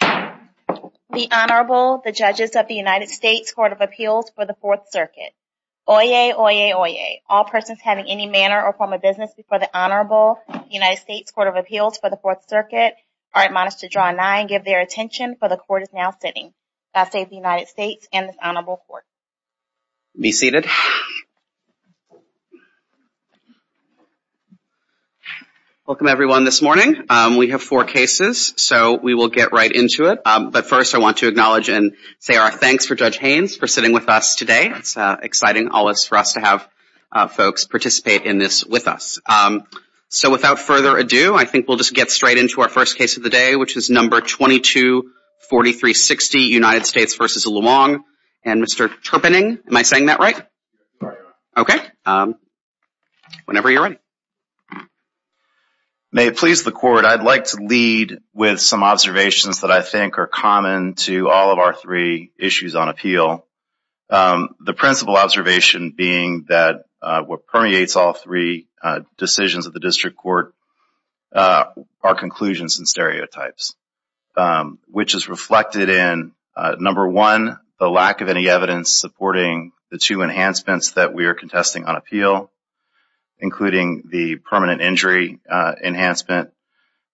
The Honorable the Judges of the United States Court of Appeals for the Fourth Circuit. Oyez, oyez, oyez, all persons having any manner or form of business before the Honorable United States Court of Appeals for the Fourth Circuit are admonished to draw nigh and give their attention for the Court is now sitting. Vassay of the United States and this Honorable Court. Be seated. Welcome everyone this morning. We have four cases so we will get right into it but first I want to acknowledge and say our thanks for Judge Haynes for sitting with us today. It's exciting always for us to have folks participate in this with us. So without further ado I think we'll just get straight into our first case of the day which is number 224360 United States v. Luong and Mr. Terpening. Am I saying that right? Okay. Whenever you're ready. May it please the court I'd like to lead with some observations that I think are common to all of our three issues on appeal. The principal observation being that what permeates all three decisions of the district court are conclusions and stereotypes which is reflected in number one the lack of any evidence supporting the two enhancements that we are contesting on appeal including the permanent injury enhancement,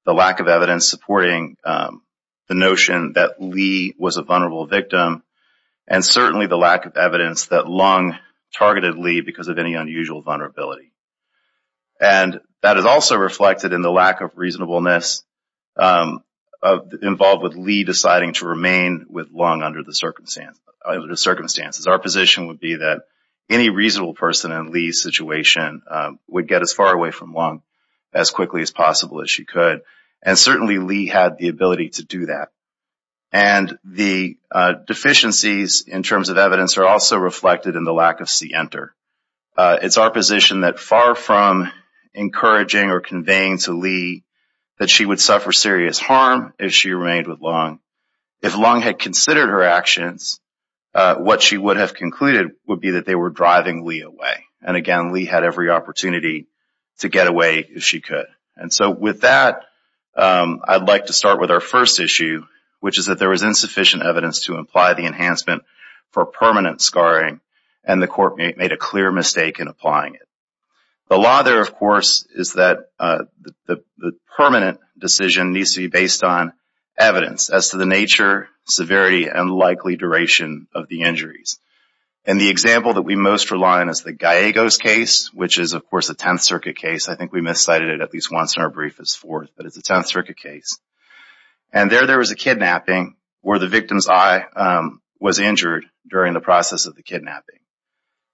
the lack of evidence supporting the notion that Lee was a vulnerable victim, and certainly the lack of evidence that Luong targeted Lee because of any unusual vulnerability. And that is also reflected in the lack of reasonableness involved with Lee deciding to remain with Luong under the circumstances. Our position would be that any reasonable person in Lee's situation would get as far away from Luong as quickly as possible as she could and certainly Lee had the ability to do that. And the deficiencies in terms of evidence are also reflected in the lack of see enter. It's our position that far from encouraging or conveying to Lee that she would suffer serious harm if she remained with Luong. If Luong had considered her actions what she would have concluded would be that they were driving Lee away. And again Lee had every opportunity to get away if she could. And so with that I'd like to start with our first issue which is that there was insufficient evidence to imply the enhancement for permanent scarring and the court made a clear mistake in the law there of course is that the permanent decision needs to be based on evidence as to the nature, severity, and likely duration of the injuries. And the example that we most rely on is the Gallegos case which is of course a 10th Circuit case. I think we miscited it at least once in our brief as forth, but it's a 10th Circuit case. And there there was a kidnapping where the victim's eye was injured during the process of the kidnapping.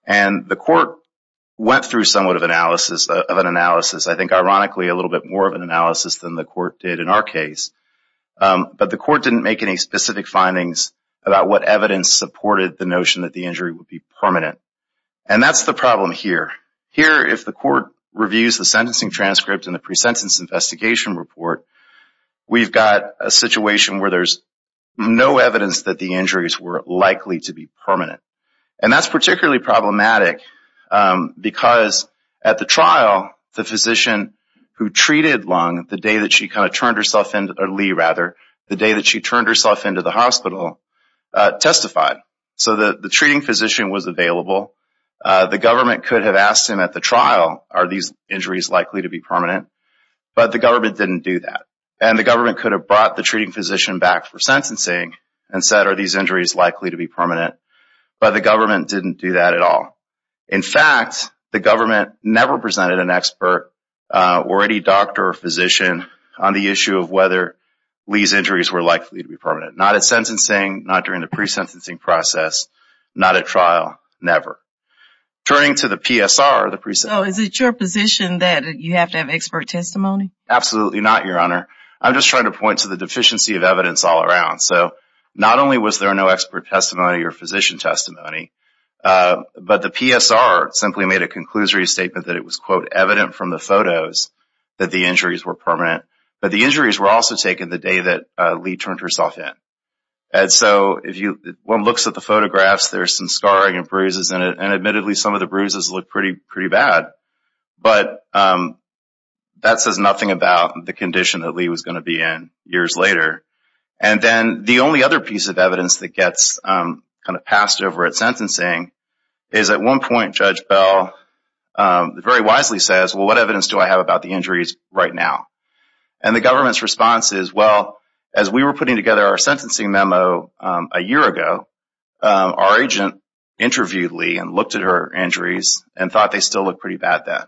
And the court went through somewhat of an analysis. I think ironically a little bit more of an analysis than the court did in our case. But the court didn't make any specific findings about what evidence supported the notion that the injury would be permanent. And that's the problem here. Here if the court reviews the sentencing transcript and the pre-sentence investigation report, we've got a situation where there's no evidence that the injuries were likely to be permanent. And that's particularly problematic because at the trial the physician who treated Lung the day that she kind of turned herself in, or Lee rather, the day that she turned herself into the hospital testified. So the the treating physician was available. The government could have asked him at the trial are these injuries likely to be permanent, but the government didn't do that. And the government could have brought the treating physician back for sentencing and said are these injuries likely to be permanent. But the government didn't do that at all. In fact, the government never presented an expert or any doctor or physician on the issue of whether Lee's injuries were likely to be permanent. Not at sentencing, not during the pre-sentencing process, not at trial, never. Turning to the PSR, the pre-sentence... So is it your position that you have to have expert testimony? Absolutely not your honor. I'm just trying to point to the Not only was there no expert testimony or physician testimony, but the PSR simply made a conclusory statement that it was quote evident from the photos that the injuries were permanent. But the injuries were also taken the day that Lee turned herself in. And so if you one looks at the photographs there's some scarring and bruises in it and admittedly some of the bruises look pretty pretty bad. But that says nothing about the condition that Lee was going to be in years later. And then the only other piece of evidence that gets kind of passed over at sentencing is at one point Judge Bell very wisely says well what evidence do I have about the injuries right now? And the government's response is well as we were putting together our sentencing memo a year ago our agent interviewed Lee and looked at her injuries and thought they still look pretty bad then.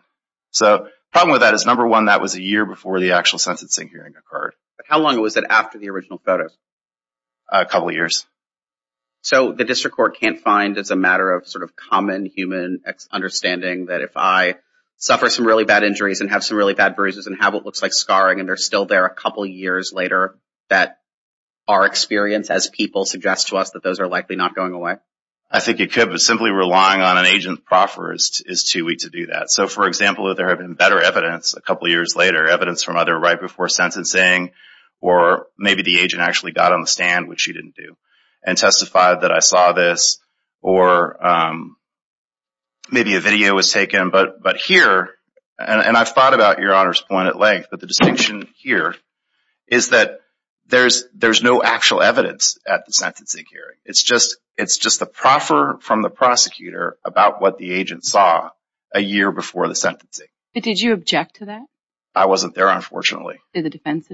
So problem with that is number one that was a year before the actual sentencing hearing occurred. How long was it after the original photos? A couple years. So the district court can't find as a matter of sort of common human understanding that if I suffer some really bad injuries and have some really bad bruises and have what looks like scarring and they're still there a couple years later that our experience as people suggests to us that those are likely not going away? I think it could but simply relying on an agent proffer is too weak to do that. So for example if there have been better evidence a couple years later evidence from other right before sentencing or maybe the agent actually got on the stand which she didn't do and testified that I saw this or maybe a video was taken but but here and I've thought about your honor's point at length but the distinction here is that there's there's no actual evidence at the sentencing hearing. It's just it's just the proffer from the prosecutor about what the agent saw a Did the defense attorney object to that? The defense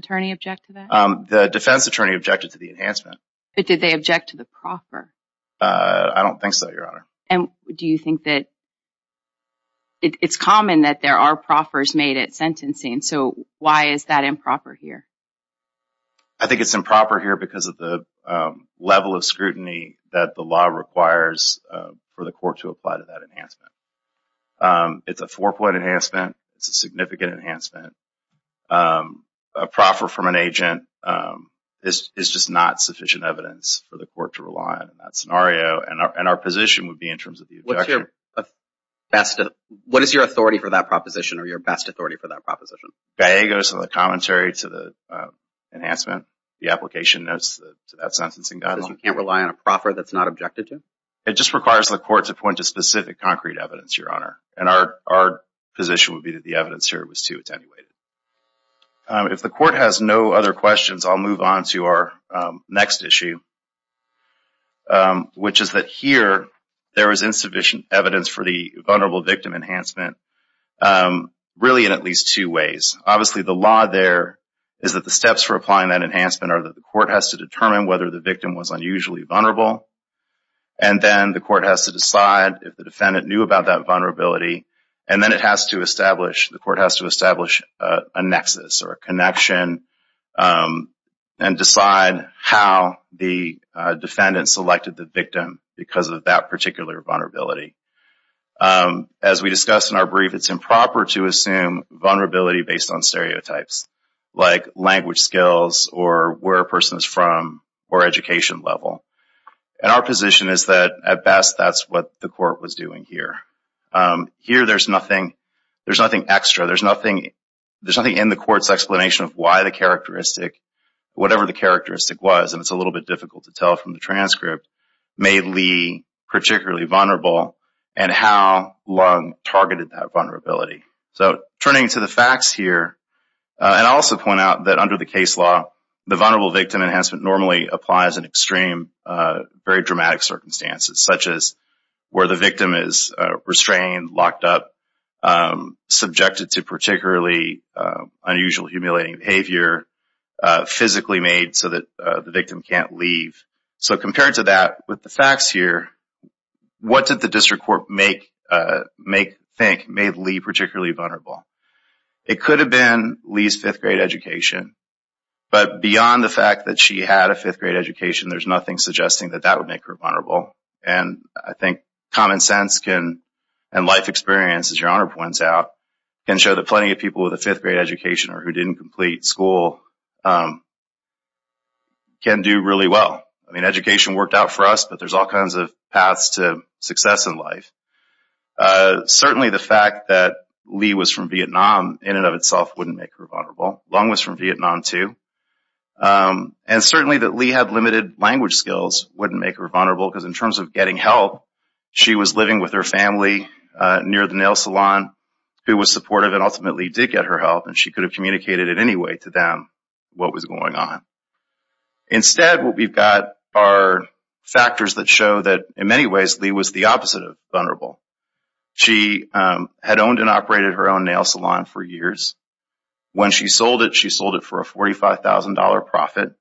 attorney objected to the enhancement. But did they object to the proffer? I don't think so your honor. And do you think that it's common that there are proffers made at sentencing so why is that improper here? I think it's improper here because of the level of scrutiny that the law requires for the court to apply to that enhancement. It's a four-point enhancement. It's a significant enhancement. A proffer from an agent is just not sufficient evidence for the court to rely on in that scenario and our position would be in terms of the objection. What's your best, what is your authority for that proposition or your best authority for that proposition? GAIA goes to the commentary to the enhancement the application notes to that sentencing document. You can't rely on a proffer that's not objected to? It just requires the court to point to specific concrete evidence your honor and our position would be that the evidence here was too attenuated. If the court has no other questions I'll move on to our next issue which is that here there is insufficient evidence for the vulnerable victim enhancement really in at least two ways. Obviously the law there is that the steps for applying that enhancement are that the court has to determine whether the victim was unusually vulnerable and then the court has to decide if the defendant knew about that and then it has to establish, the court has to establish a nexus or a connection and decide how the defendant selected the victim because of that particular vulnerability. As we discussed in our brief it's improper to assume vulnerability based on stereotypes like language skills or where a person is from or education level and our position is that at best that's what the court was doing here. Here there's nothing, there's nothing extra, there's nothing there's nothing in the court's explanation of why the characteristic whatever the characteristic was and it's a little bit difficult to tell from the transcript made Lee particularly vulnerable and how long targeted that vulnerability. So turning to the facts here and I also point out that under the case law the vulnerable victim enhancement normally applies in extreme very dramatic circumstances such as where the victim is restrained, locked up, subjected to particularly unusual humiliating behavior, physically made so that the victim can't leave. So compared to that with the facts here what did the district court make, make, think made Lee particularly vulnerable? It could have been Lee's fifth grade education but beyond the fact that she had a fifth grade education there's nothing suggesting that that would make her vulnerable and I think common sense can and life experience as your honor points out can show that plenty of people with a fifth grade education or who didn't complete school can do really well. I mean education worked out for us but there's all kinds of paths to success in life. Certainly the fact that Lee was from Vietnam in and of itself wouldn't make her vulnerable. Lung was from Vietnam too and certainly that Lee had limited language skills wouldn't make her vulnerable because in terms of getting help she was living with her family near the nail salon who was supportive and ultimately did get her help and she could have communicated in any way to them what was going on. Instead what we've got are factors that show that in many ways Lee was the opposite of vulnerable. She had owned and operated her own nail salon for years. When she sold it she sold it for a $45,000 profit.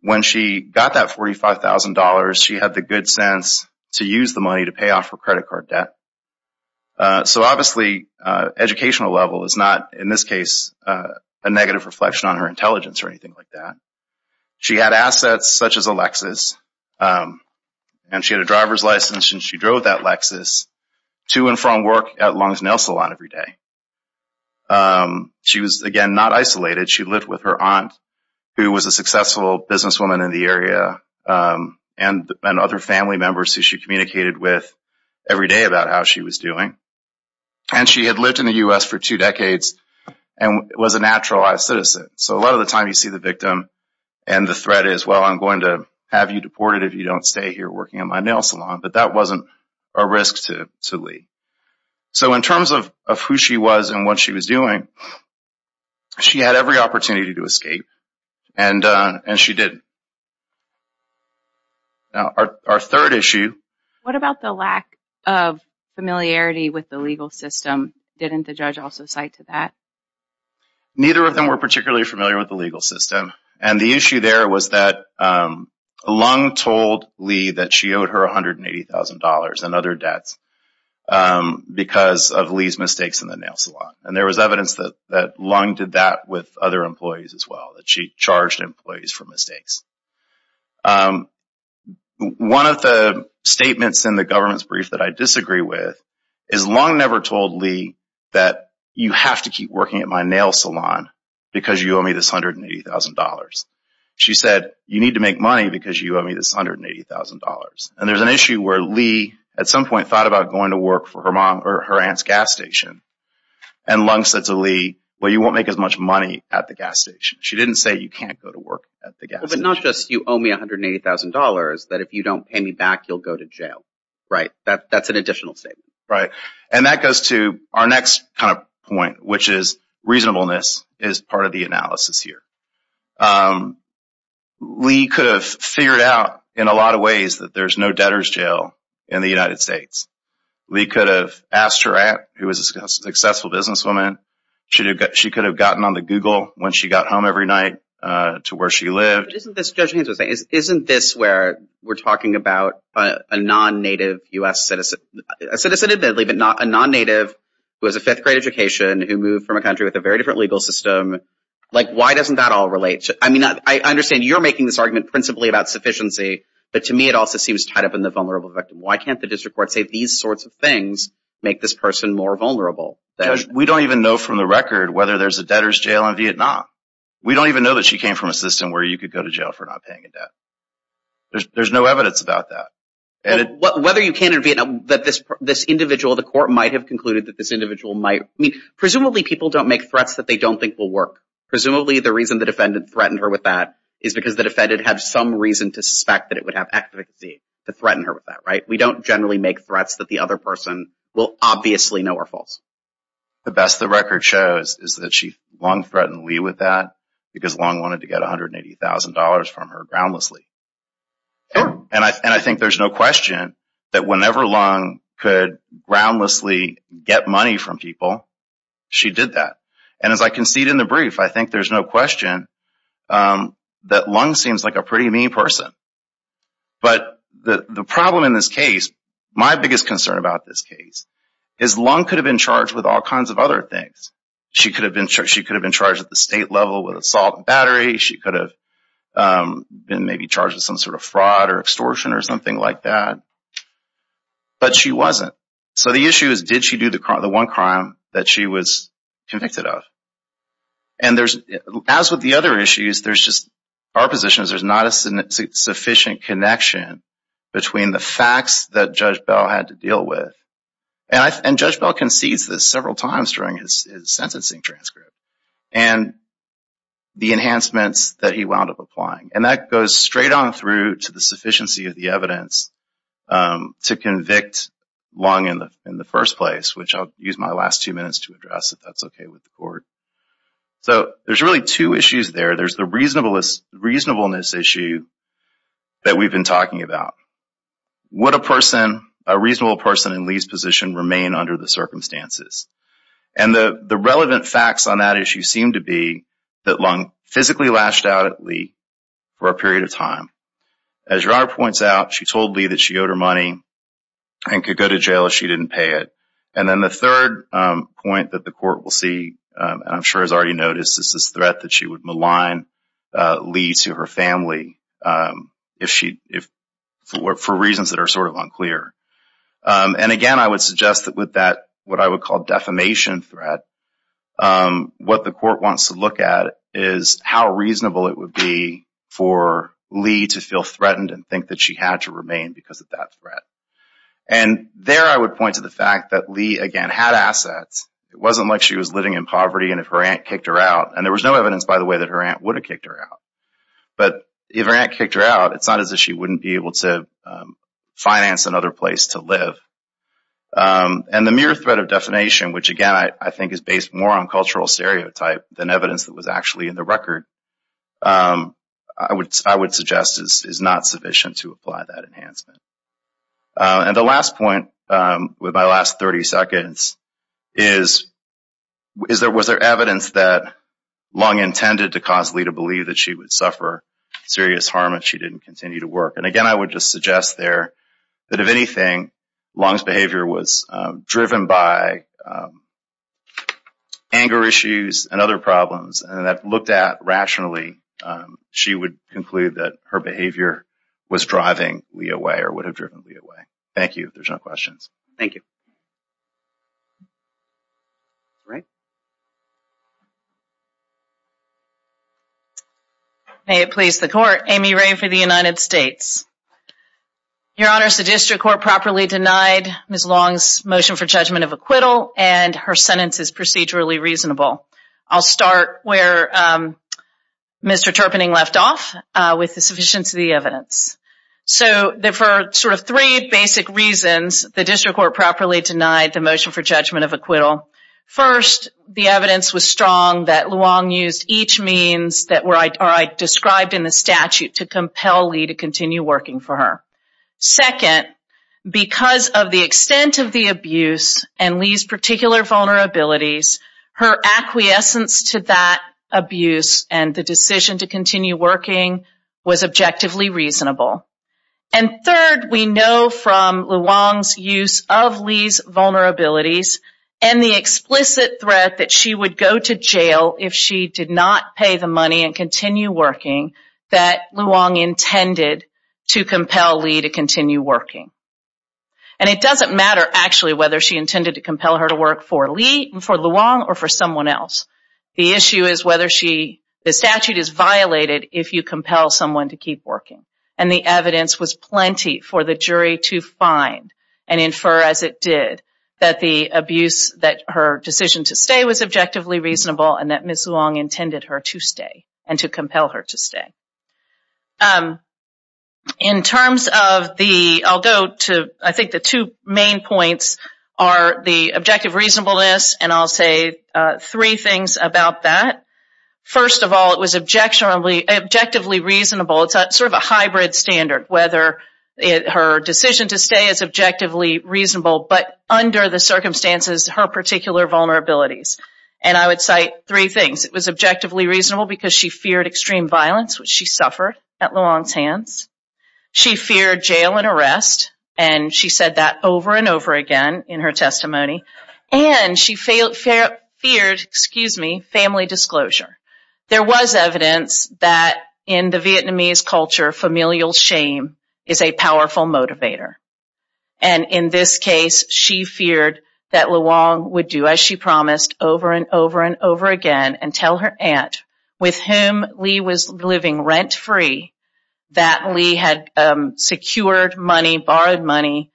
When she got that $45,000 she had the good sense to use the money to pay off her credit card debt. So obviously educational level is not in this case a negative reflection on her intelligence or anything like that. She had assets such as a Lexus and she had a driver's license and she drove that Lexus to and from work at Lung's She was again not isolated. She lived with her aunt who was a successful businesswoman in the area and other family members who she communicated with every day about how she was doing and she had lived in the US for two decades and was a naturalized citizen. So a lot of the time you see the victim and the threat is well I'm going to have you deported if you don't stay here working at my nail salon but that wasn't a risk to Lee. So in terms of who she was and what she was doing she had every opportunity to escape and and she didn't. Now our third issue... What about the lack of familiarity with the legal system? Didn't the judge also cite to that? Neither of them were particularly familiar with the legal system and the issue there was that Lung told Lee that she owed her $180,000 and other debts because of Lee's mistakes in the nail salon and there was evidence that that Lung did that with other employees as well that she charged employees for mistakes. One of the statements in the government's brief that I disagree with is Lung never told Lee that you have to keep working at my nail salon because you owe me this $180,000. She said you need to make money because you owe me this $180,000 and there's an issue where Lee at some point thought about going to work for her mom or her aunt's gas station and Lung said to Lee well you won't make as much money at the gas station. She didn't say you can't go to work at the gas station. But not just you owe me $180,000 that if you don't pay me back you'll go to jail, right? That's an additional statement. Right and that goes to our next kind of point which is reasonableness is part of the analysis here. Lee could have figured out in a lot of ways that there's no debtors jail in the United States. Lee could have asked her aunt who was a successful businesswoman. She could have gotten on the Google when she got home every night to where she lived. Isn't this where we're talking about a non-native US citizen, a non-native who has a fifth grade education who moved from a country with a very different legal system. Like why doesn't that all relate? I mean I understand you're making this argument principally about sufficiency but to me it also seems tied up in the vulnerable victim. Why can't the district court say these sorts of things make this person more vulnerable? We don't even know from the record whether there's a debtors jail in Vietnam. We don't even know that she came from a system where you could go to jail for not paying a debt. There's no evidence about that. Whether you can in Vietnam that this individual the court might have concluded that this individual might. I mean presumably people don't make threats that they don't think will work. Presumably the reason the defendant threatened her with that is because the defendant had some reason to suspect that it would have advocacy to threaten her with that. We don't generally make threats that the other person will obviously know are false. The best the record shows is that she long threatened Lee with that because Long wanted to get $180,000 from her groundlessly. And I think there's no question that whenever Long could groundlessly get money from people she did that. And as I concede in the brief I think there's no question that Long seems like a pretty mean person. But the problem in this case, my biggest concern about this case, is Long could have been charged with all kinds of other things. She could have been charged at the state level with assault and battery. She could have been maybe charged with some sort of fraud or extortion or something like that. But she wasn't. So the issue is did she do the one crime that she was convicted of? And there's as with the other issues there's just our position is there's not a sufficient connection between the facts that Judge Bell had to deal with. And Judge Bell concedes this several times during his sentencing transcript and the enhancements that he wound up applying. And that goes straight on through to the sufficiency of the evidence to convict Long in the first place, which I'll use my last two minutes to address if that's okay with the court. So there's really two issues there. There's the reasonableness issue that we've been talking about. Would a person, a reasonable person, in Lee's position remain under the circumstances? And the the relevant facts on that issue seem to be that Long physically lashed out at Lee for a period of time. As Gerard points out, she told Lee that she owed her money and could go to jail if she didn't pay it. And then the third point that the court will see, and I'm sure has already noticed, is this threat that she would blind Lee to her family if she, for reasons that are sort of unclear. And again, I would suggest that with that what I would call defamation threat, what the court wants to look at is how reasonable it would be for Lee to feel threatened and think that she had to remain because of that threat. And there I would point to the fact that Lee, again, had assets. It wasn't like she was living in poverty and if her aunt kicked her out, and there was no evidence by the way that her aunt would have kicked her out. But if her aunt kicked her out, it's not as if she wouldn't be able to finance another place to live. And the mere threat of defamation, which again I think is based more on cultural stereotype than evidence that was actually in the record, I would suggest is not sufficient to apply that enhancement. And the last point with my to cause Lee to believe that she would suffer serious harm if she didn't continue to work. And again, I would just suggest there that if anything, Long's behavior was driven by anger issues and other problems. And that looked at rationally, she would conclude that her behavior was driving Lee away or would have driven Lee away. Thank you. There's no questions. Thank you. Great. May it please the court. Amy Ray for the United States. Your Honor, the District Court properly denied Ms. Long's motion for judgment of acquittal and her sentence is procedurally reasonable. I'll start where Mr. Terpening left off with the sufficiency of the evidence. So for sort of three basic reasons, the District Court properly denied the motion for judgment of acquittal. First, the evidence was strong that Long used each means that were described in the statute to compel Lee to continue working for her. Second, because of the extent of the abuse and Lee's particular vulnerabilities, her acquiescence to that abuse and the decision to continue working was objectively reasonable. And third, we know from Long's use of Lee's vulnerabilities and the explicit threat that she would go to jail if she did not pay the money and continue working that Long intended to compel Lee to continue working. And it doesn't matter actually whether she intended to compel her to work for Lee, for Long, or for someone else. The issue is whether she, the statute is violated if you compel someone to keep working. And the evidence was plenty for the jury to find and infer as it did that the abuse that her decision to stay was objectively reasonable and that Ms. Long intended her to stay and to compel her to stay. In terms of the, I'll go to, I think the two main points are the objective reasonableness and I'll say three things about that. First of all, it was objectively reasonable. It's sort of a hybrid standard, whether her decision to stay is objectively reasonable but under the circumstances her particular vulnerabilities. And I would cite three things. It was objectively reasonable because she feared extreme violence, which she suffered at Long's hands. She feared jail and arrest and she said that over and over again in her testimony. And she feared, excuse me, family disclosure. There was evidence that in the Vietnamese culture, familial shame is a powerful motivator. And in this case, she feared that Luong would do as she promised over and over and over again and tell her aunt, with whom Lee was living rent-free, that Lee had secured money, borrowed money,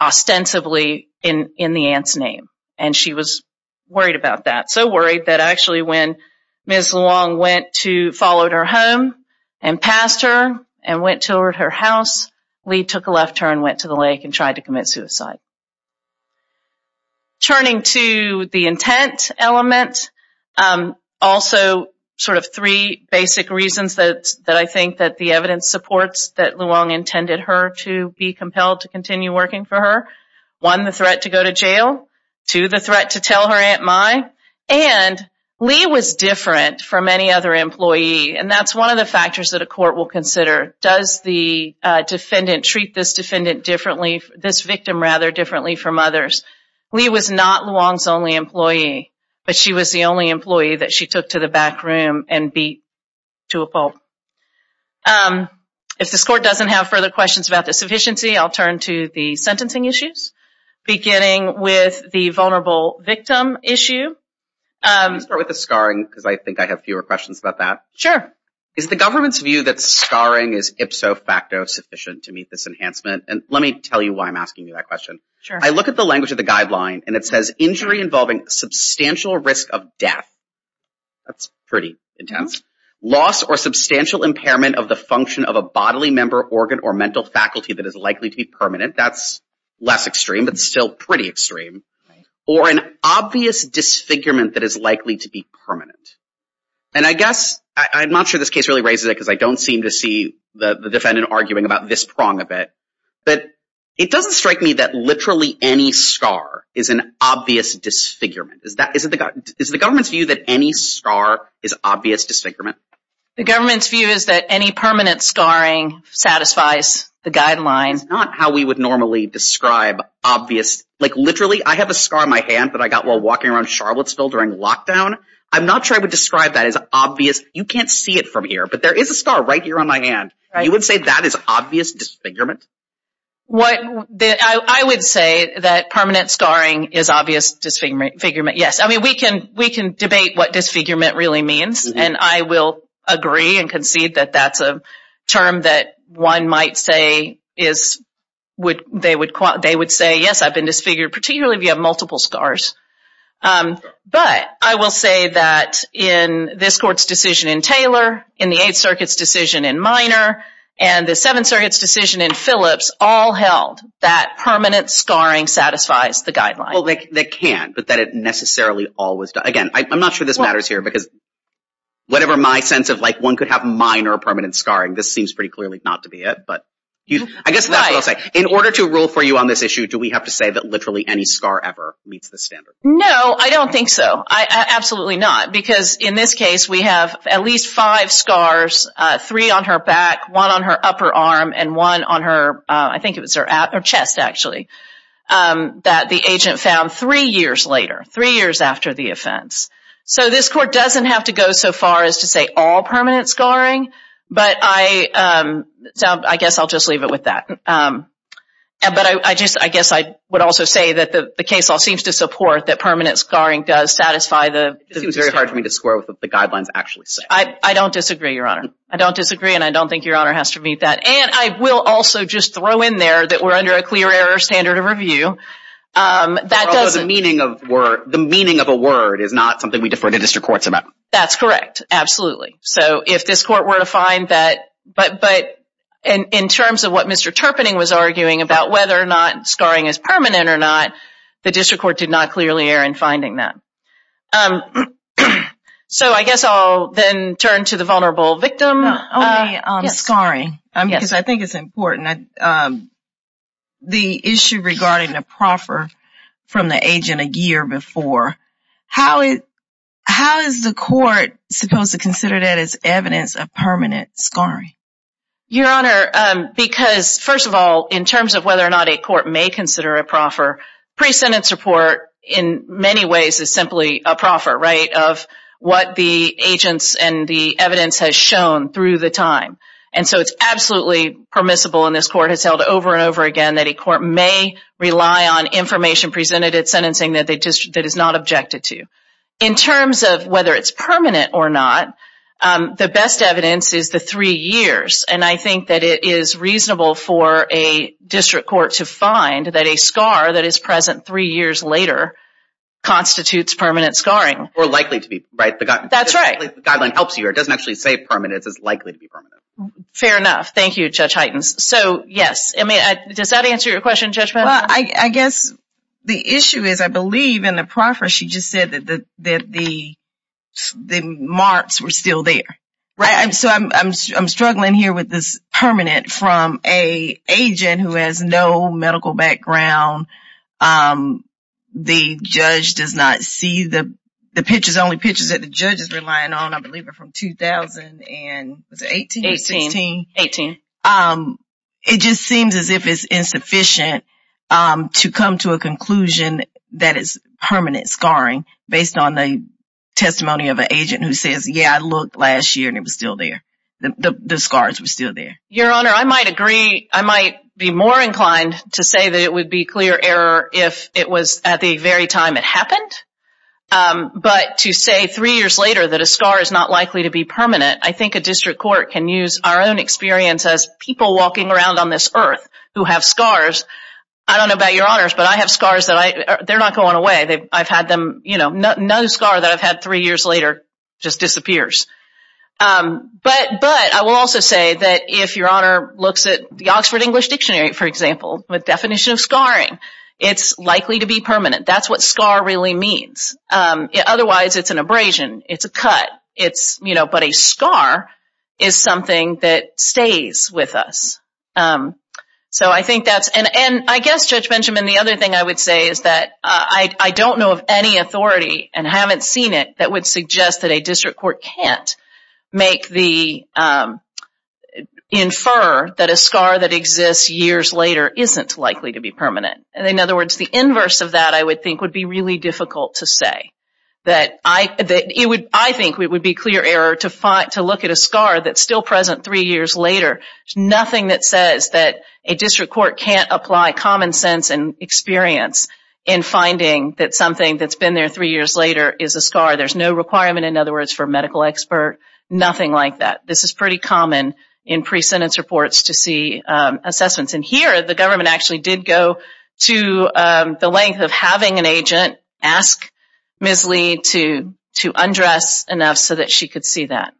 ostensibly in the aunt's name. And she was worried about that. So worried that actually when Ms. Luong went to, followed her home and passed her and went toward her house, Lee took a left turn, went to the lake and tried to commit suicide. Turning to the intent element, also sort of three basic reasons that I think that the evidence supports that Luong intended her to be compelled to continue working for her. One, the threat to go to jail. Two, the threat to tell her aunt Mai. And Lee was different from any other employee. And that's one of the factors that a court will consider. Does the defendant treat this defendant differently, this victim rather differently from others? Lee was not Luong's only employee, but she was the only employee that she took to the back room and beat to a pulp. If this court doesn't have further questions about the sufficiency, I'll turn to the sentencing issues. Beginning with the vulnerable victim issue. Can I start with the scarring because I think I have fewer questions about that. Sure. Is the government's view that scarring is ipso facto sufficient to meet this enhancement? And let me tell you why I'm asking you that question. Sure. I look at the language of the guideline and it says injury involving substantial risk of death. That's pretty intense. Loss or substantial impairment of the function of a bodily member organ or mental faculty that is likely to be permanent. That's less extreme but still pretty extreme. Or an obvious disfigurement that is likely to be permanent. And I guess, I'm not sure this case really raises it because I don't seem to see the defendant arguing about this prong a bit. But it doesn't strike me that literally any scar is an obvious disfigurement. Is the government's view that any scar is obvious disfigurement? The government's view is that any permanent scarring satisfies the definition of obvious disfigurement. I have a scar on my hand that I got while walking around Charlottesville during lockdown. I'm not sure I would describe that as obvious. You can't see it from here but there is a scar right here on my hand. You would say that is obvious disfigurement? I would say that permanent scarring is obvious disfigurement. Yes. I mean we can debate what disfigurement really means and I will agree and concede that that's a term that one might say is, they would say yes I've been disfigured particularly if you have multiple scars. But I will say that in this court's decision in Taylor, in the Eighth Circuit's decision in Minor, and the Seventh Circuit's decision in Phillips all held that permanent scarring satisfies the guideline. Well they can but that it necessarily always does. Again I'm not sure this matters here because whatever my sense of like one could have minor permanent scarring this seems pretty clearly not to be it but I guess that's what I'll say. In order to rule for you on this issue do we have to say that literally any scar ever meets the standard? No I don't think so I absolutely not because in this case we have at least five scars, three on her back, one on her upper arm, and one on her I think it was her chest actually that the agent found three years later, three years after the offense. So this court doesn't have to go so far as to say all permanent scarring but I guess I'll just leave it with that. But I just I guess I would also say that the case law seems to support that permanent scarring does satisfy the... It seems very hard for me to square with what the guidelines actually say. I don't disagree your honor. I don't disagree and I don't think your honor has to meet that and I will also just throw in there that we're under a clear error standard of review. That doesn't... The meaning of a word is not something we defer to district courts about. That's correct absolutely. So if this court were to find that but but in terms of what Mr. Terpening was arguing about whether or not scarring is permanent or not the district court did not clearly err in finding that. So I guess I'll then turn to the vulnerable victim. Only scarring because I think it's important. The issue regarding a proffer from the agent a year before. How is the court supposed to consider that as evidence of permanent scarring? Your honor because first of all in terms of whether or not a court may consider a proffer, pre-sentence report in many ways is simply a proffer right of what the agents and the evidence has shown through the time. And so it's absolutely permissible in this court has held over and over again that a court may rely on information presented at sentencing that they just that is not objected to. In terms of whether it's permanent or not the best evidence is the three years and I think that it is reasonable for a district court to find that a scar that is present three years later constitutes permanent scarring. Or likely to be right? That's right. The guideline helps you or doesn't actually say permanent. It's likely to be permanent. Fair enough. Thank you Judge Hytens. So yes I mean does that answer your question Judge Patterson? Well I guess the issue is I believe in the proffer she just said that the marks were still there. Right. And so I'm struggling here with this permanent from a agent who has no medical background. The judge does not see the the pictures only pictures that the 2000 and was it 18? 18. It just seems as if it's insufficient to come to a conclusion that is permanent scarring based on the testimony of an agent who says yeah I looked last year and it was still there. The scars were still there. Your Honor I might agree I might be more inclined to say that it would be clear error if it was at the very time it happened. But to say three years later that a scar is not likely to be permanent I think a district court can use our own experience as people walking around on this earth who have scars. I don't know about your honors but I have scars that I they're not going away. I've had them you know no scar that I've had three years later just disappears. But I will also say that if your honor looks at the Oxford English Dictionary for example with definition of scarring it's likely to be permanent. That's what scar really means. Otherwise it's an abrasion. It's a cut. It's you know but a scar is something that stays with us. So I think that's and I guess Judge Benjamin the other thing I would say is that I don't know of any authority and haven't seen it that would suggest that a district court can't make the infer that a scar that exists years later isn't likely to be permanent. And in other words the inverse of that I would think would be really difficult to say. That I that it would I think we would be clear error to fight to look at a scar that's still present three years later. Nothing that says that a district court can't apply common sense and experience in finding that something that's been there three years later is a scar. There's no requirement in other words for a medical expert. Nothing like that. This is pretty common in pre-sentence reports to see assessments. And here the government actually did go to the length of having an agent ask Ms. Lee to to undress enough so that she could see that.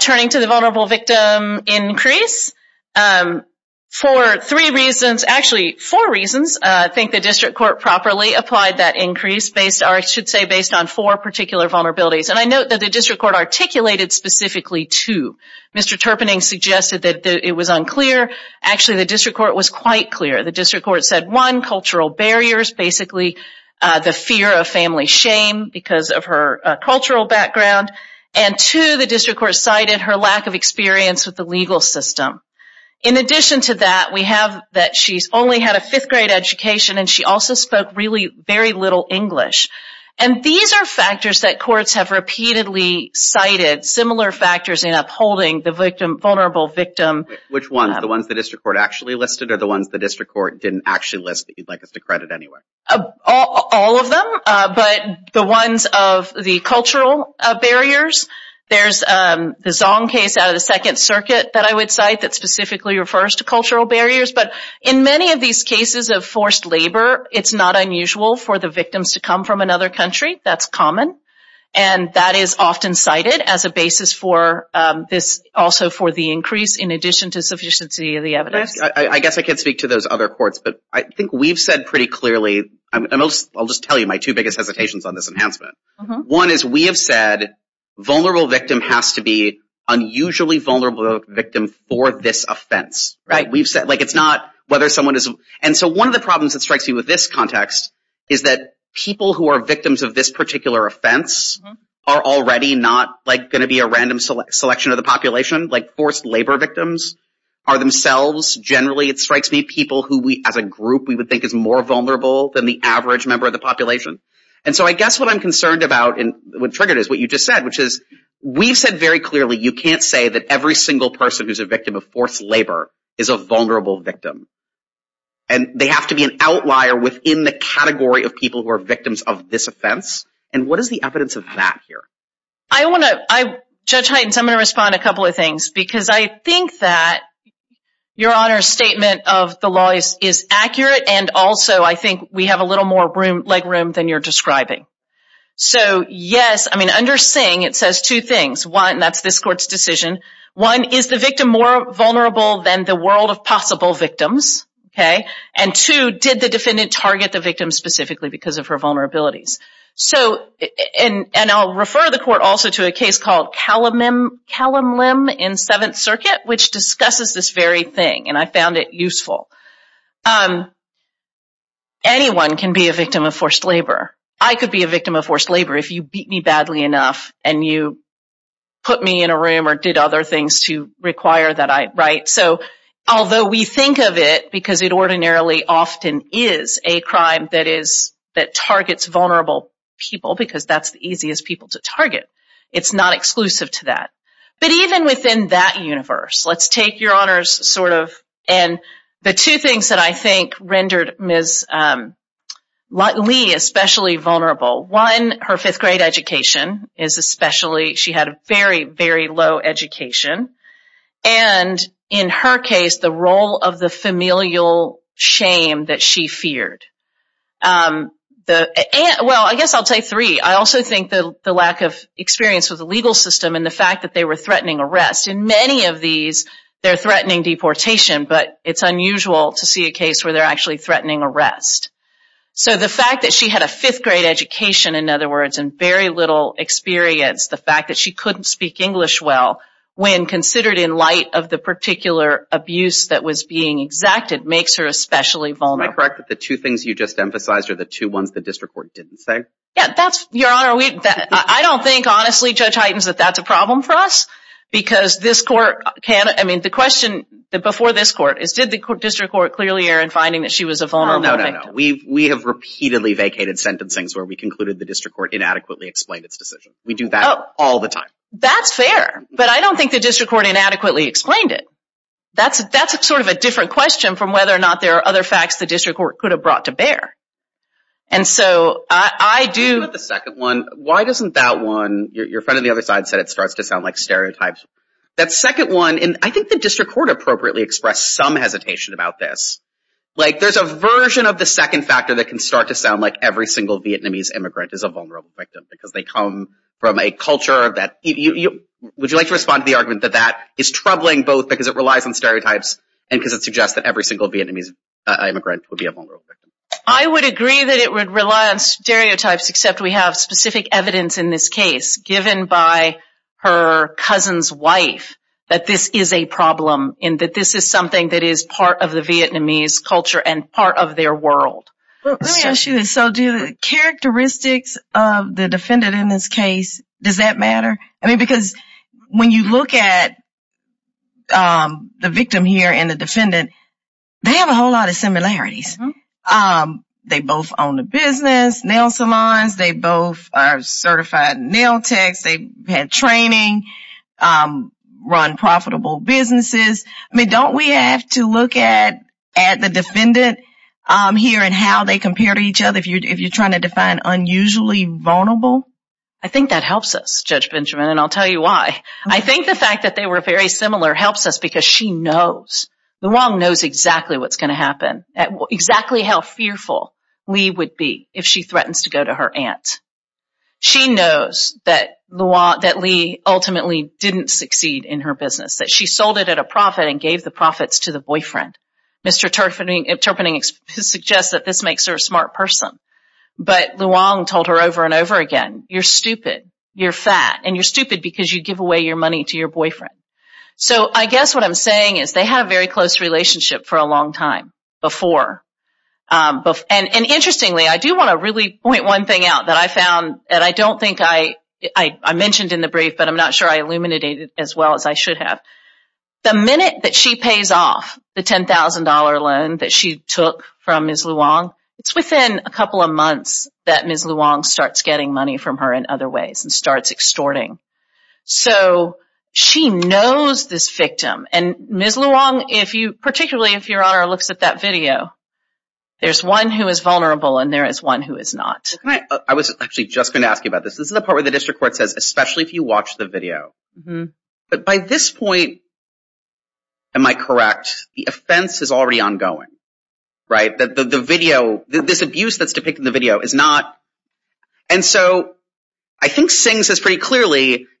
Turning to the vulnerable victim increase. For three reasons actually four reasons I think the district court properly applied that increase based or I should say based on four particular vulnerabilities. And I note that the district court articulated specifically two. Mr. Terpening suggested that it was unclear. Actually the district court was quite clear. The district court said one cultural barriers basically the fear of family shame because of her cultural background. And two the district court cited her lack of experience with the legal system. In addition to that we have that she's only had a fifth grade education and she also spoke really very little English. And these are factors that courts have repeatedly cited similar factors in vulnerable victim. Which ones the ones the district court actually listed or the ones the district court didn't actually list that you'd like us to credit anyway? All of them but the ones of the cultural barriers. There's the Zong case out of the Second Circuit that I would cite that specifically refers to cultural barriers. But in many of these cases of forced labor it's not unusual for the victims to come from another country. That's common and that is often cited as a basis for this also for the increase in addition to sufficiency of the evidence. I guess I can't speak to those other courts but I think we've said pretty clearly and I'll just tell you my two biggest hesitations on this enhancement. One is we have said vulnerable victim has to be unusually vulnerable victim for this offense. Right. We've said like it's not whether someone is and so one of the problems that strikes me with this context is that people who are victims of this particular offense are already not like going to be a random selection of the population. Like forced labor victims are themselves generally it strikes me people who we as a group we would think is more vulnerable than the average member of the population. And so I guess what I'm concerned about and what triggered is what you just said which is we've said very clearly you can't say that every single person who's a victim of forced labor is a vulnerable victim. And they have to be an outlier within the category of people who are victims of this offense. And what is the evidence of that here? I want to, Judge Heintz, I'm going to respond a couple of things because I think that your Honor's statement of the law is accurate and also I think we have a little more leg room than you're describing. So yes I mean under Singh it says two things. One, that's this court's decision. One, is the victim more vulnerable than the world of possible victims? Okay. And two, did the victim specifically because of her vulnerabilities? So and I'll refer the court also to a case called Callum Lim in Seventh Circuit which discusses this very thing and I found it useful. Anyone can be a victim of forced labor. I could be a victim of forced labor if you beat me badly enough and you put me in a room or did other things to require that I write. So although we is that targets vulnerable people because that's the easiest people to target. It's not exclusive to that. But even within that universe, let's take your Honor's sort of and the two things that I think rendered Ms. Lee especially vulnerable. One, her fifth grade education is especially, she had a very very low education. And in her case the role of the familial shame that she feared. Well I guess I'll take three. I also think the lack of experience with the legal system and the fact that they were threatening arrest. In many of these they're threatening deportation but it's unusual to see a case where they're actually threatening arrest. So the fact that she had a fifth grade education in other words and very little experience. The fact that she couldn't speak English well when considered in light of the particular abuse that was being exacted makes her especially vulnerable. Am I correct that the two things you just emphasized are the two ones the District Court didn't say? Yeah that's your Honor. I don't think honestly Judge Heitens that that's a problem for us because this court can't. I mean the question that before this court is did the District Court clearly err in finding that she was a vulnerable victim? No, no, no. We have repeatedly vacated sentencing's where we concluded the District Court inadequately explained its decision. We do that all the time. That's fair but I don't think the District Court inadequately explained it. That's sort of a different question from whether or not there are other facts the District Court could have brought to bear. And so I do... The second one, why doesn't that one your friend on the other side said it starts to sound like stereotypes. That second one and I think the District Court appropriately expressed some hesitation about this. Like there's a version of the second factor that can start to sound like every single Vietnamese immigrant is a vulnerable victim because they come from a culture that you would you like to respond to the argument that that is that every single Vietnamese immigrant would be a vulnerable victim. I would agree that it would rely on stereotypes except we have specific evidence in this case given by her cousin's wife that this is a problem and that this is something that is part of the Vietnamese culture and part of their world. Let me ask you this. So do characteristics of the defendant in this case, does that matter? I mean because when you look at the they have a whole lot of similarities. They both own the business, nail salons, they both are certified nail techs, they had training, run profitable businesses. I mean don't we have to look at at the defendant here and how they compare to each other if you're trying to define unusually vulnerable? I think that helps us Judge Benjamin and I'll tell you why. I think the fact that they were very similar helps us because she knows, Luong knows exactly what's going to happen, exactly how fearful Leigh would be if she threatens to go to her aunt. She knows that Leigh ultimately didn't succeed in her business, that she sold it at a profit and gave the profits to the boyfriend. Mr. Terpening suggests that this makes her a smart person but Luong told her over and over again, you're stupid, you're fat, and you're stupid because you give away your boyfriend. So I guess what I'm saying is they had a very close relationship for a long time before. Interestingly I do want to really point one thing out that I found and I don't think I mentioned in the brief but I'm not sure I illuminated it as well as I should have. The minute that she pays off the $10,000 loan that she took from Ms. Luong, it's within a couple of months that Ms. Luong starts getting money from her in other ways and starts extorting. So she knows this victim and Ms. Luong, particularly if your Honor looks at that video, there's one who is vulnerable and there is one who is not. I was actually just going to ask you about this. This is the part where the district court says especially if you watch the video. But by this point, am I correct, the offense is already ongoing, right? That the video, this abuse that's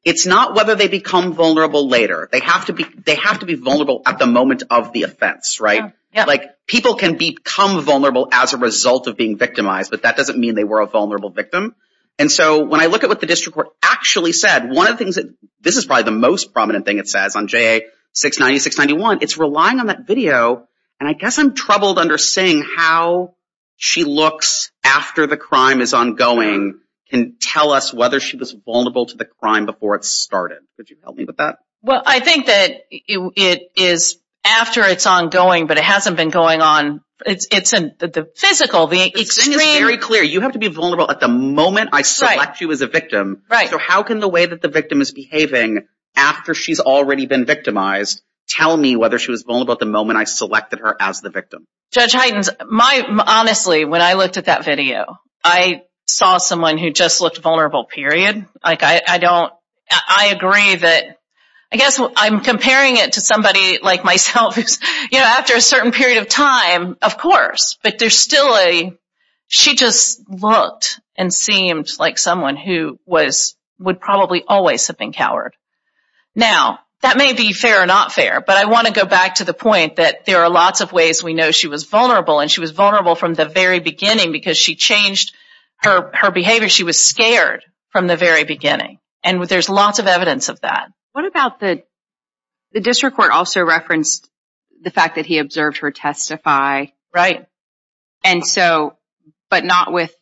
it's not whether they become vulnerable later. They have to be vulnerable at the moment of the offense, right? Like people can become vulnerable as a result of being victimized but that doesn't mean they were a vulnerable victim. And so when I look at what the district court actually said, one of the things that this is probably the most prominent thing it says on JA 690-691, it's relying on that video and I guess I'm troubled understanding how she looks after the crime is ongoing can tell us whether she was vulnerable to the crime before it started. Could you help me with that? Well, I think that it is after it's ongoing but it hasn't been going on. It's the physical, the extreme. It's very clear. You have to be vulnerable at the moment I select you as a victim. Right. So how can the way that the victim is behaving after she's already been victimized tell me whether she was vulnerable at the moment I selected her as the victim? Judge Heitens, honestly when I I don't I agree that I guess I'm comparing it to somebody like myself who's you know after a certain period of time of course but there's still a she just looked and seemed like someone who was would probably always have been coward. Now that may be fair or not fair but I want to go back to the point that there are lots of ways we know she was vulnerable and she was vulnerable from the very beginning because she changed her behavior. She was scared from the very beginning and with there's lots of evidence of that. What about the the district court also referenced the fact that he observed her testify. Right. And so but not with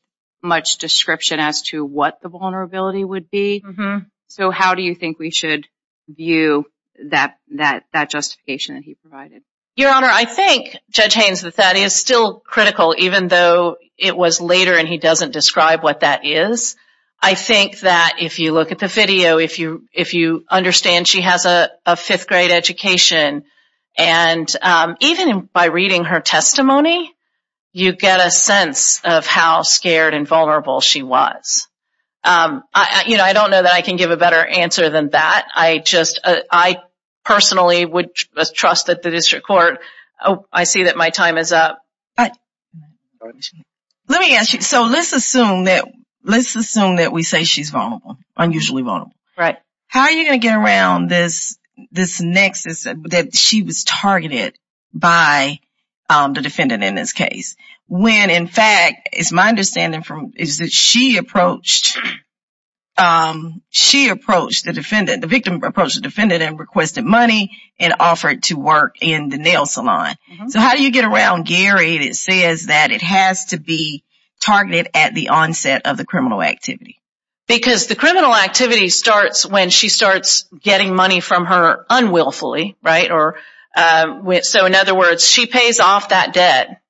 much description as to what the vulnerability would be. Mm-hmm. So how do you think we should view that that that justification that he provided? Your Honor, I think Judge Heintz that that is still critical even though it was later and he doesn't describe what that is. I think that if you look at the video if you if you understand she has a fifth grade education and even by reading her testimony you get a sense of how scared and vulnerable she was. You know I don't know that I can give a better answer than that. I just I So let's assume that let's assume that we say she's vulnerable, unusually vulnerable. Right. How are you gonna get around this this nexus that she was targeted by the defendant in this case? When in fact it's my understanding from is that she approached she approached the defendant the victim approached the defendant and requested money and offered to work in the nail salon. So how do you get around Gary that says that it has to be targeted at the onset of the criminal activity? Because the criminal activity starts when she starts getting money from her unwillfully right or with so in other words she pays off that debt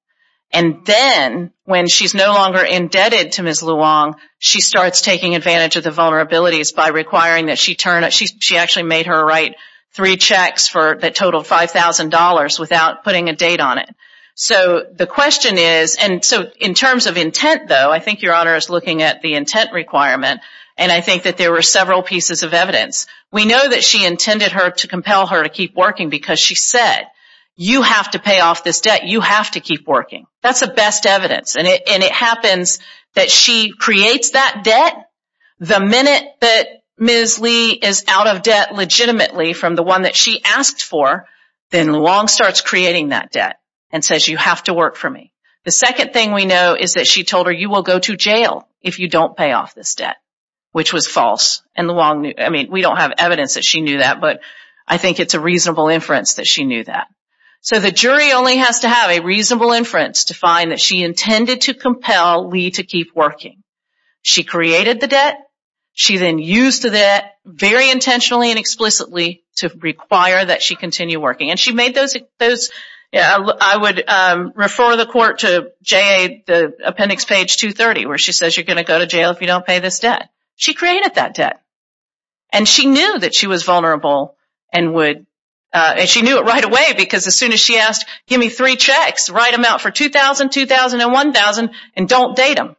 and then when she's no longer indebted to Ms. Luong she starts taking advantage of the vulnerabilities by requiring that she turn it she actually made her write three checks for that total $5,000 without putting a date on it. So the question is and so in terms of intent though I think your honor is looking at the intent requirement and I think that there were several pieces of evidence. We know that she intended her to compel her to keep working because she said you have to pay off this debt you have to keep working. That's the best evidence and it happens that she creates that debt the minute that Ms. Lee is out of debt legitimately from the one that she asked for then Luong starts creating that debt and says you have to work for me. The second thing we know is that she told her you will go to jail if you don't pay off this debt which was false and Luong knew I mean we don't have evidence that she knew that but I think it's a reasonable inference that she knew that. So the jury only has to have a reasonable inference to find that she intended to compel Lee to keep working. She created the debt she then used to that very intentionally and explicitly to require that she continue working and she made those yeah I would refer the court to JA the appendix page 230 where she says you're gonna go to jail if you don't pay this debt. She created that debt and she knew that she was vulnerable and would and she knew it right away because as soon as she asked give me three checks write them out for 2,000 2,000 and 1,000 and don't date him.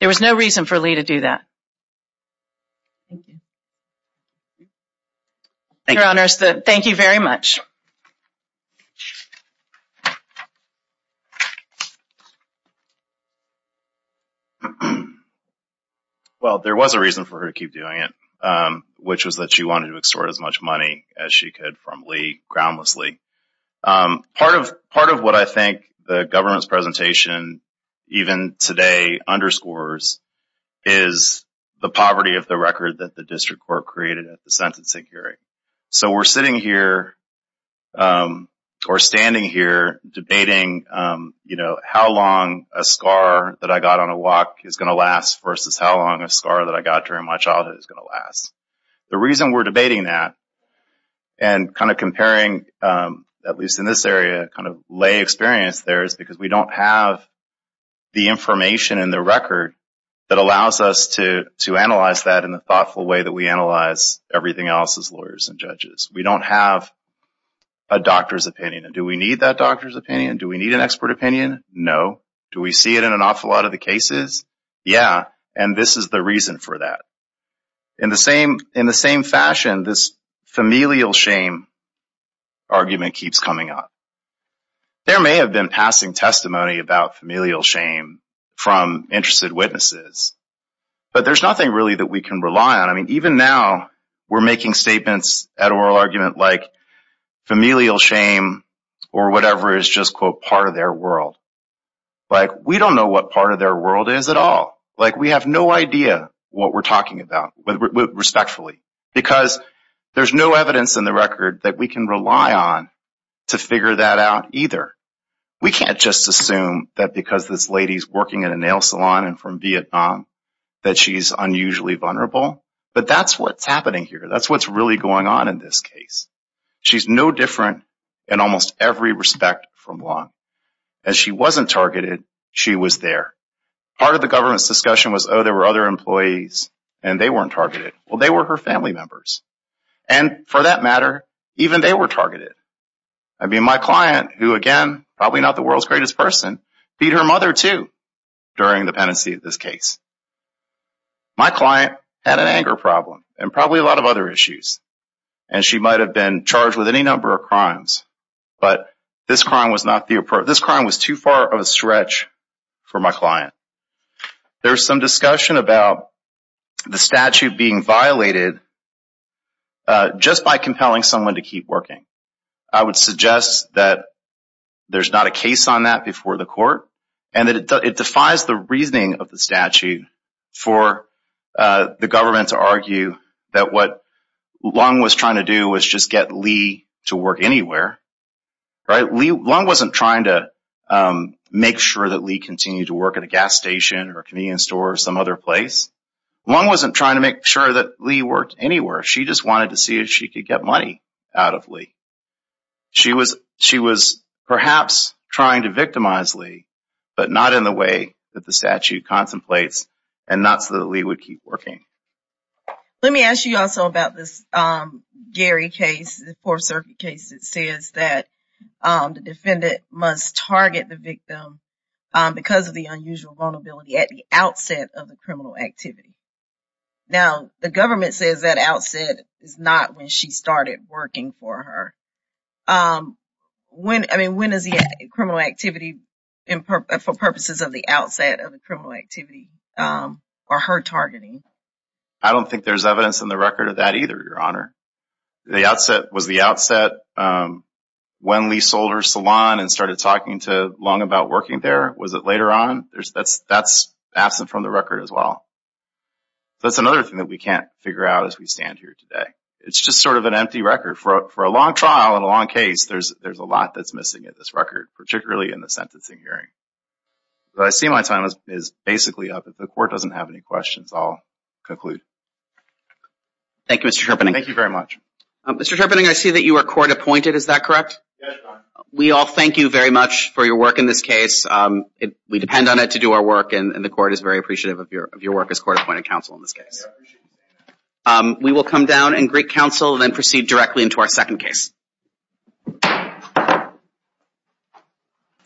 There was no reason for Lee to do that. Your Honor, thank you very much. Well there was a reason for her to keep doing it which was that she wanted to extort as much money as she could from Lee groundlessly. Part of part of what I this presentation even today underscores is the poverty of the record that the district court created at the sentencing hearing. So we're sitting here or standing here debating you know how long a scar that I got on a walk is gonna last versus how long a scar that I got during my childhood is gonna last. The reason we're debating that and kind of comparing at least in this area kind of lay experience there is because we don't have the information in the record that allows us to to analyze that in a thoughtful way that we analyze everything else as lawyers and judges. We don't have a doctor's opinion. Do we need that doctor's opinion? Do we need an expert opinion? No. Do we see it in an awful lot of the cases? Yeah and this is the reason for that. In the same in the familial shame argument keeps coming up. There may have been passing testimony about familial shame from interested witnesses but there's nothing really that we can rely on. I mean even now we're making statements at oral argument like familial shame or whatever is just quote part of their world. Like we don't know what part of their world is at all. Like we have no idea what we're talking about respectfully because there's no evidence in the record that we can rely on to figure that out either. We can't just assume that because this lady's working at a nail salon and from Vietnam that she's unusually vulnerable but that's what's happening here. That's what's really going on in this case. She's no different in almost every respect from law. As she wasn't targeted she was there. Part of the government's discussion was oh there were other employees and they weren't targeted. Well they were her family members and for that matter even they were targeted. I mean my client who again probably not the world's greatest person beat her mother too during the pendency of this case. My client had an anger problem and probably a lot of other issues and she might have been charged with any number of crimes but this crime was not the approach. This discussion about the statute being violated just by compelling someone to keep working. I would suggest that there's not a case on that before the court and that it defies the reasoning of the statute for the government to argue that what Lung was trying to do was just get Lee to work anywhere. Lung wasn't trying to make sure that Lee continued to work at a gas station or some other place. Lung wasn't trying to make sure that Lee worked anywhere. She just wanted to see if she could get money out of Lee. She was perhaps trying to victimize Lee but not in the way that the statute contemplates and not so that Lee would keep working. Let me ask you also about this Gary case, the Fourth Circuit case that says that the defendant must target the victim because of the unusual vulnerability at the outset of the criminal activity. Now the government says that outset is not when she started working for her. When is the criminal activity for purposes of the outset of the criminal activity or her targeting? I don't think there's evidence in the record of that either your honor. The outset was the outset when Lee sold her salon and started talking to Lung about working there. Was it later on? That's absent from the record as well. That's another thing that we can't figure out as we stand here today. It's just sort of an empty record. For a long trial and a long case there's a lot that's missing in this record, particularly in the sentencing hearing. I see my time is basically up. If the court doesn't have any questions I'll conclude. Thank you Mr. Terpening. Thank you very much. Mr. Terpening, I see that you are court-appointed is that correct? We all thank you very much for your work in this case. We depend on it to do our work and the court is very appreciative of your work as court-appointed counsel in this case. We will come down and greet counsel then proceed directly into our second case.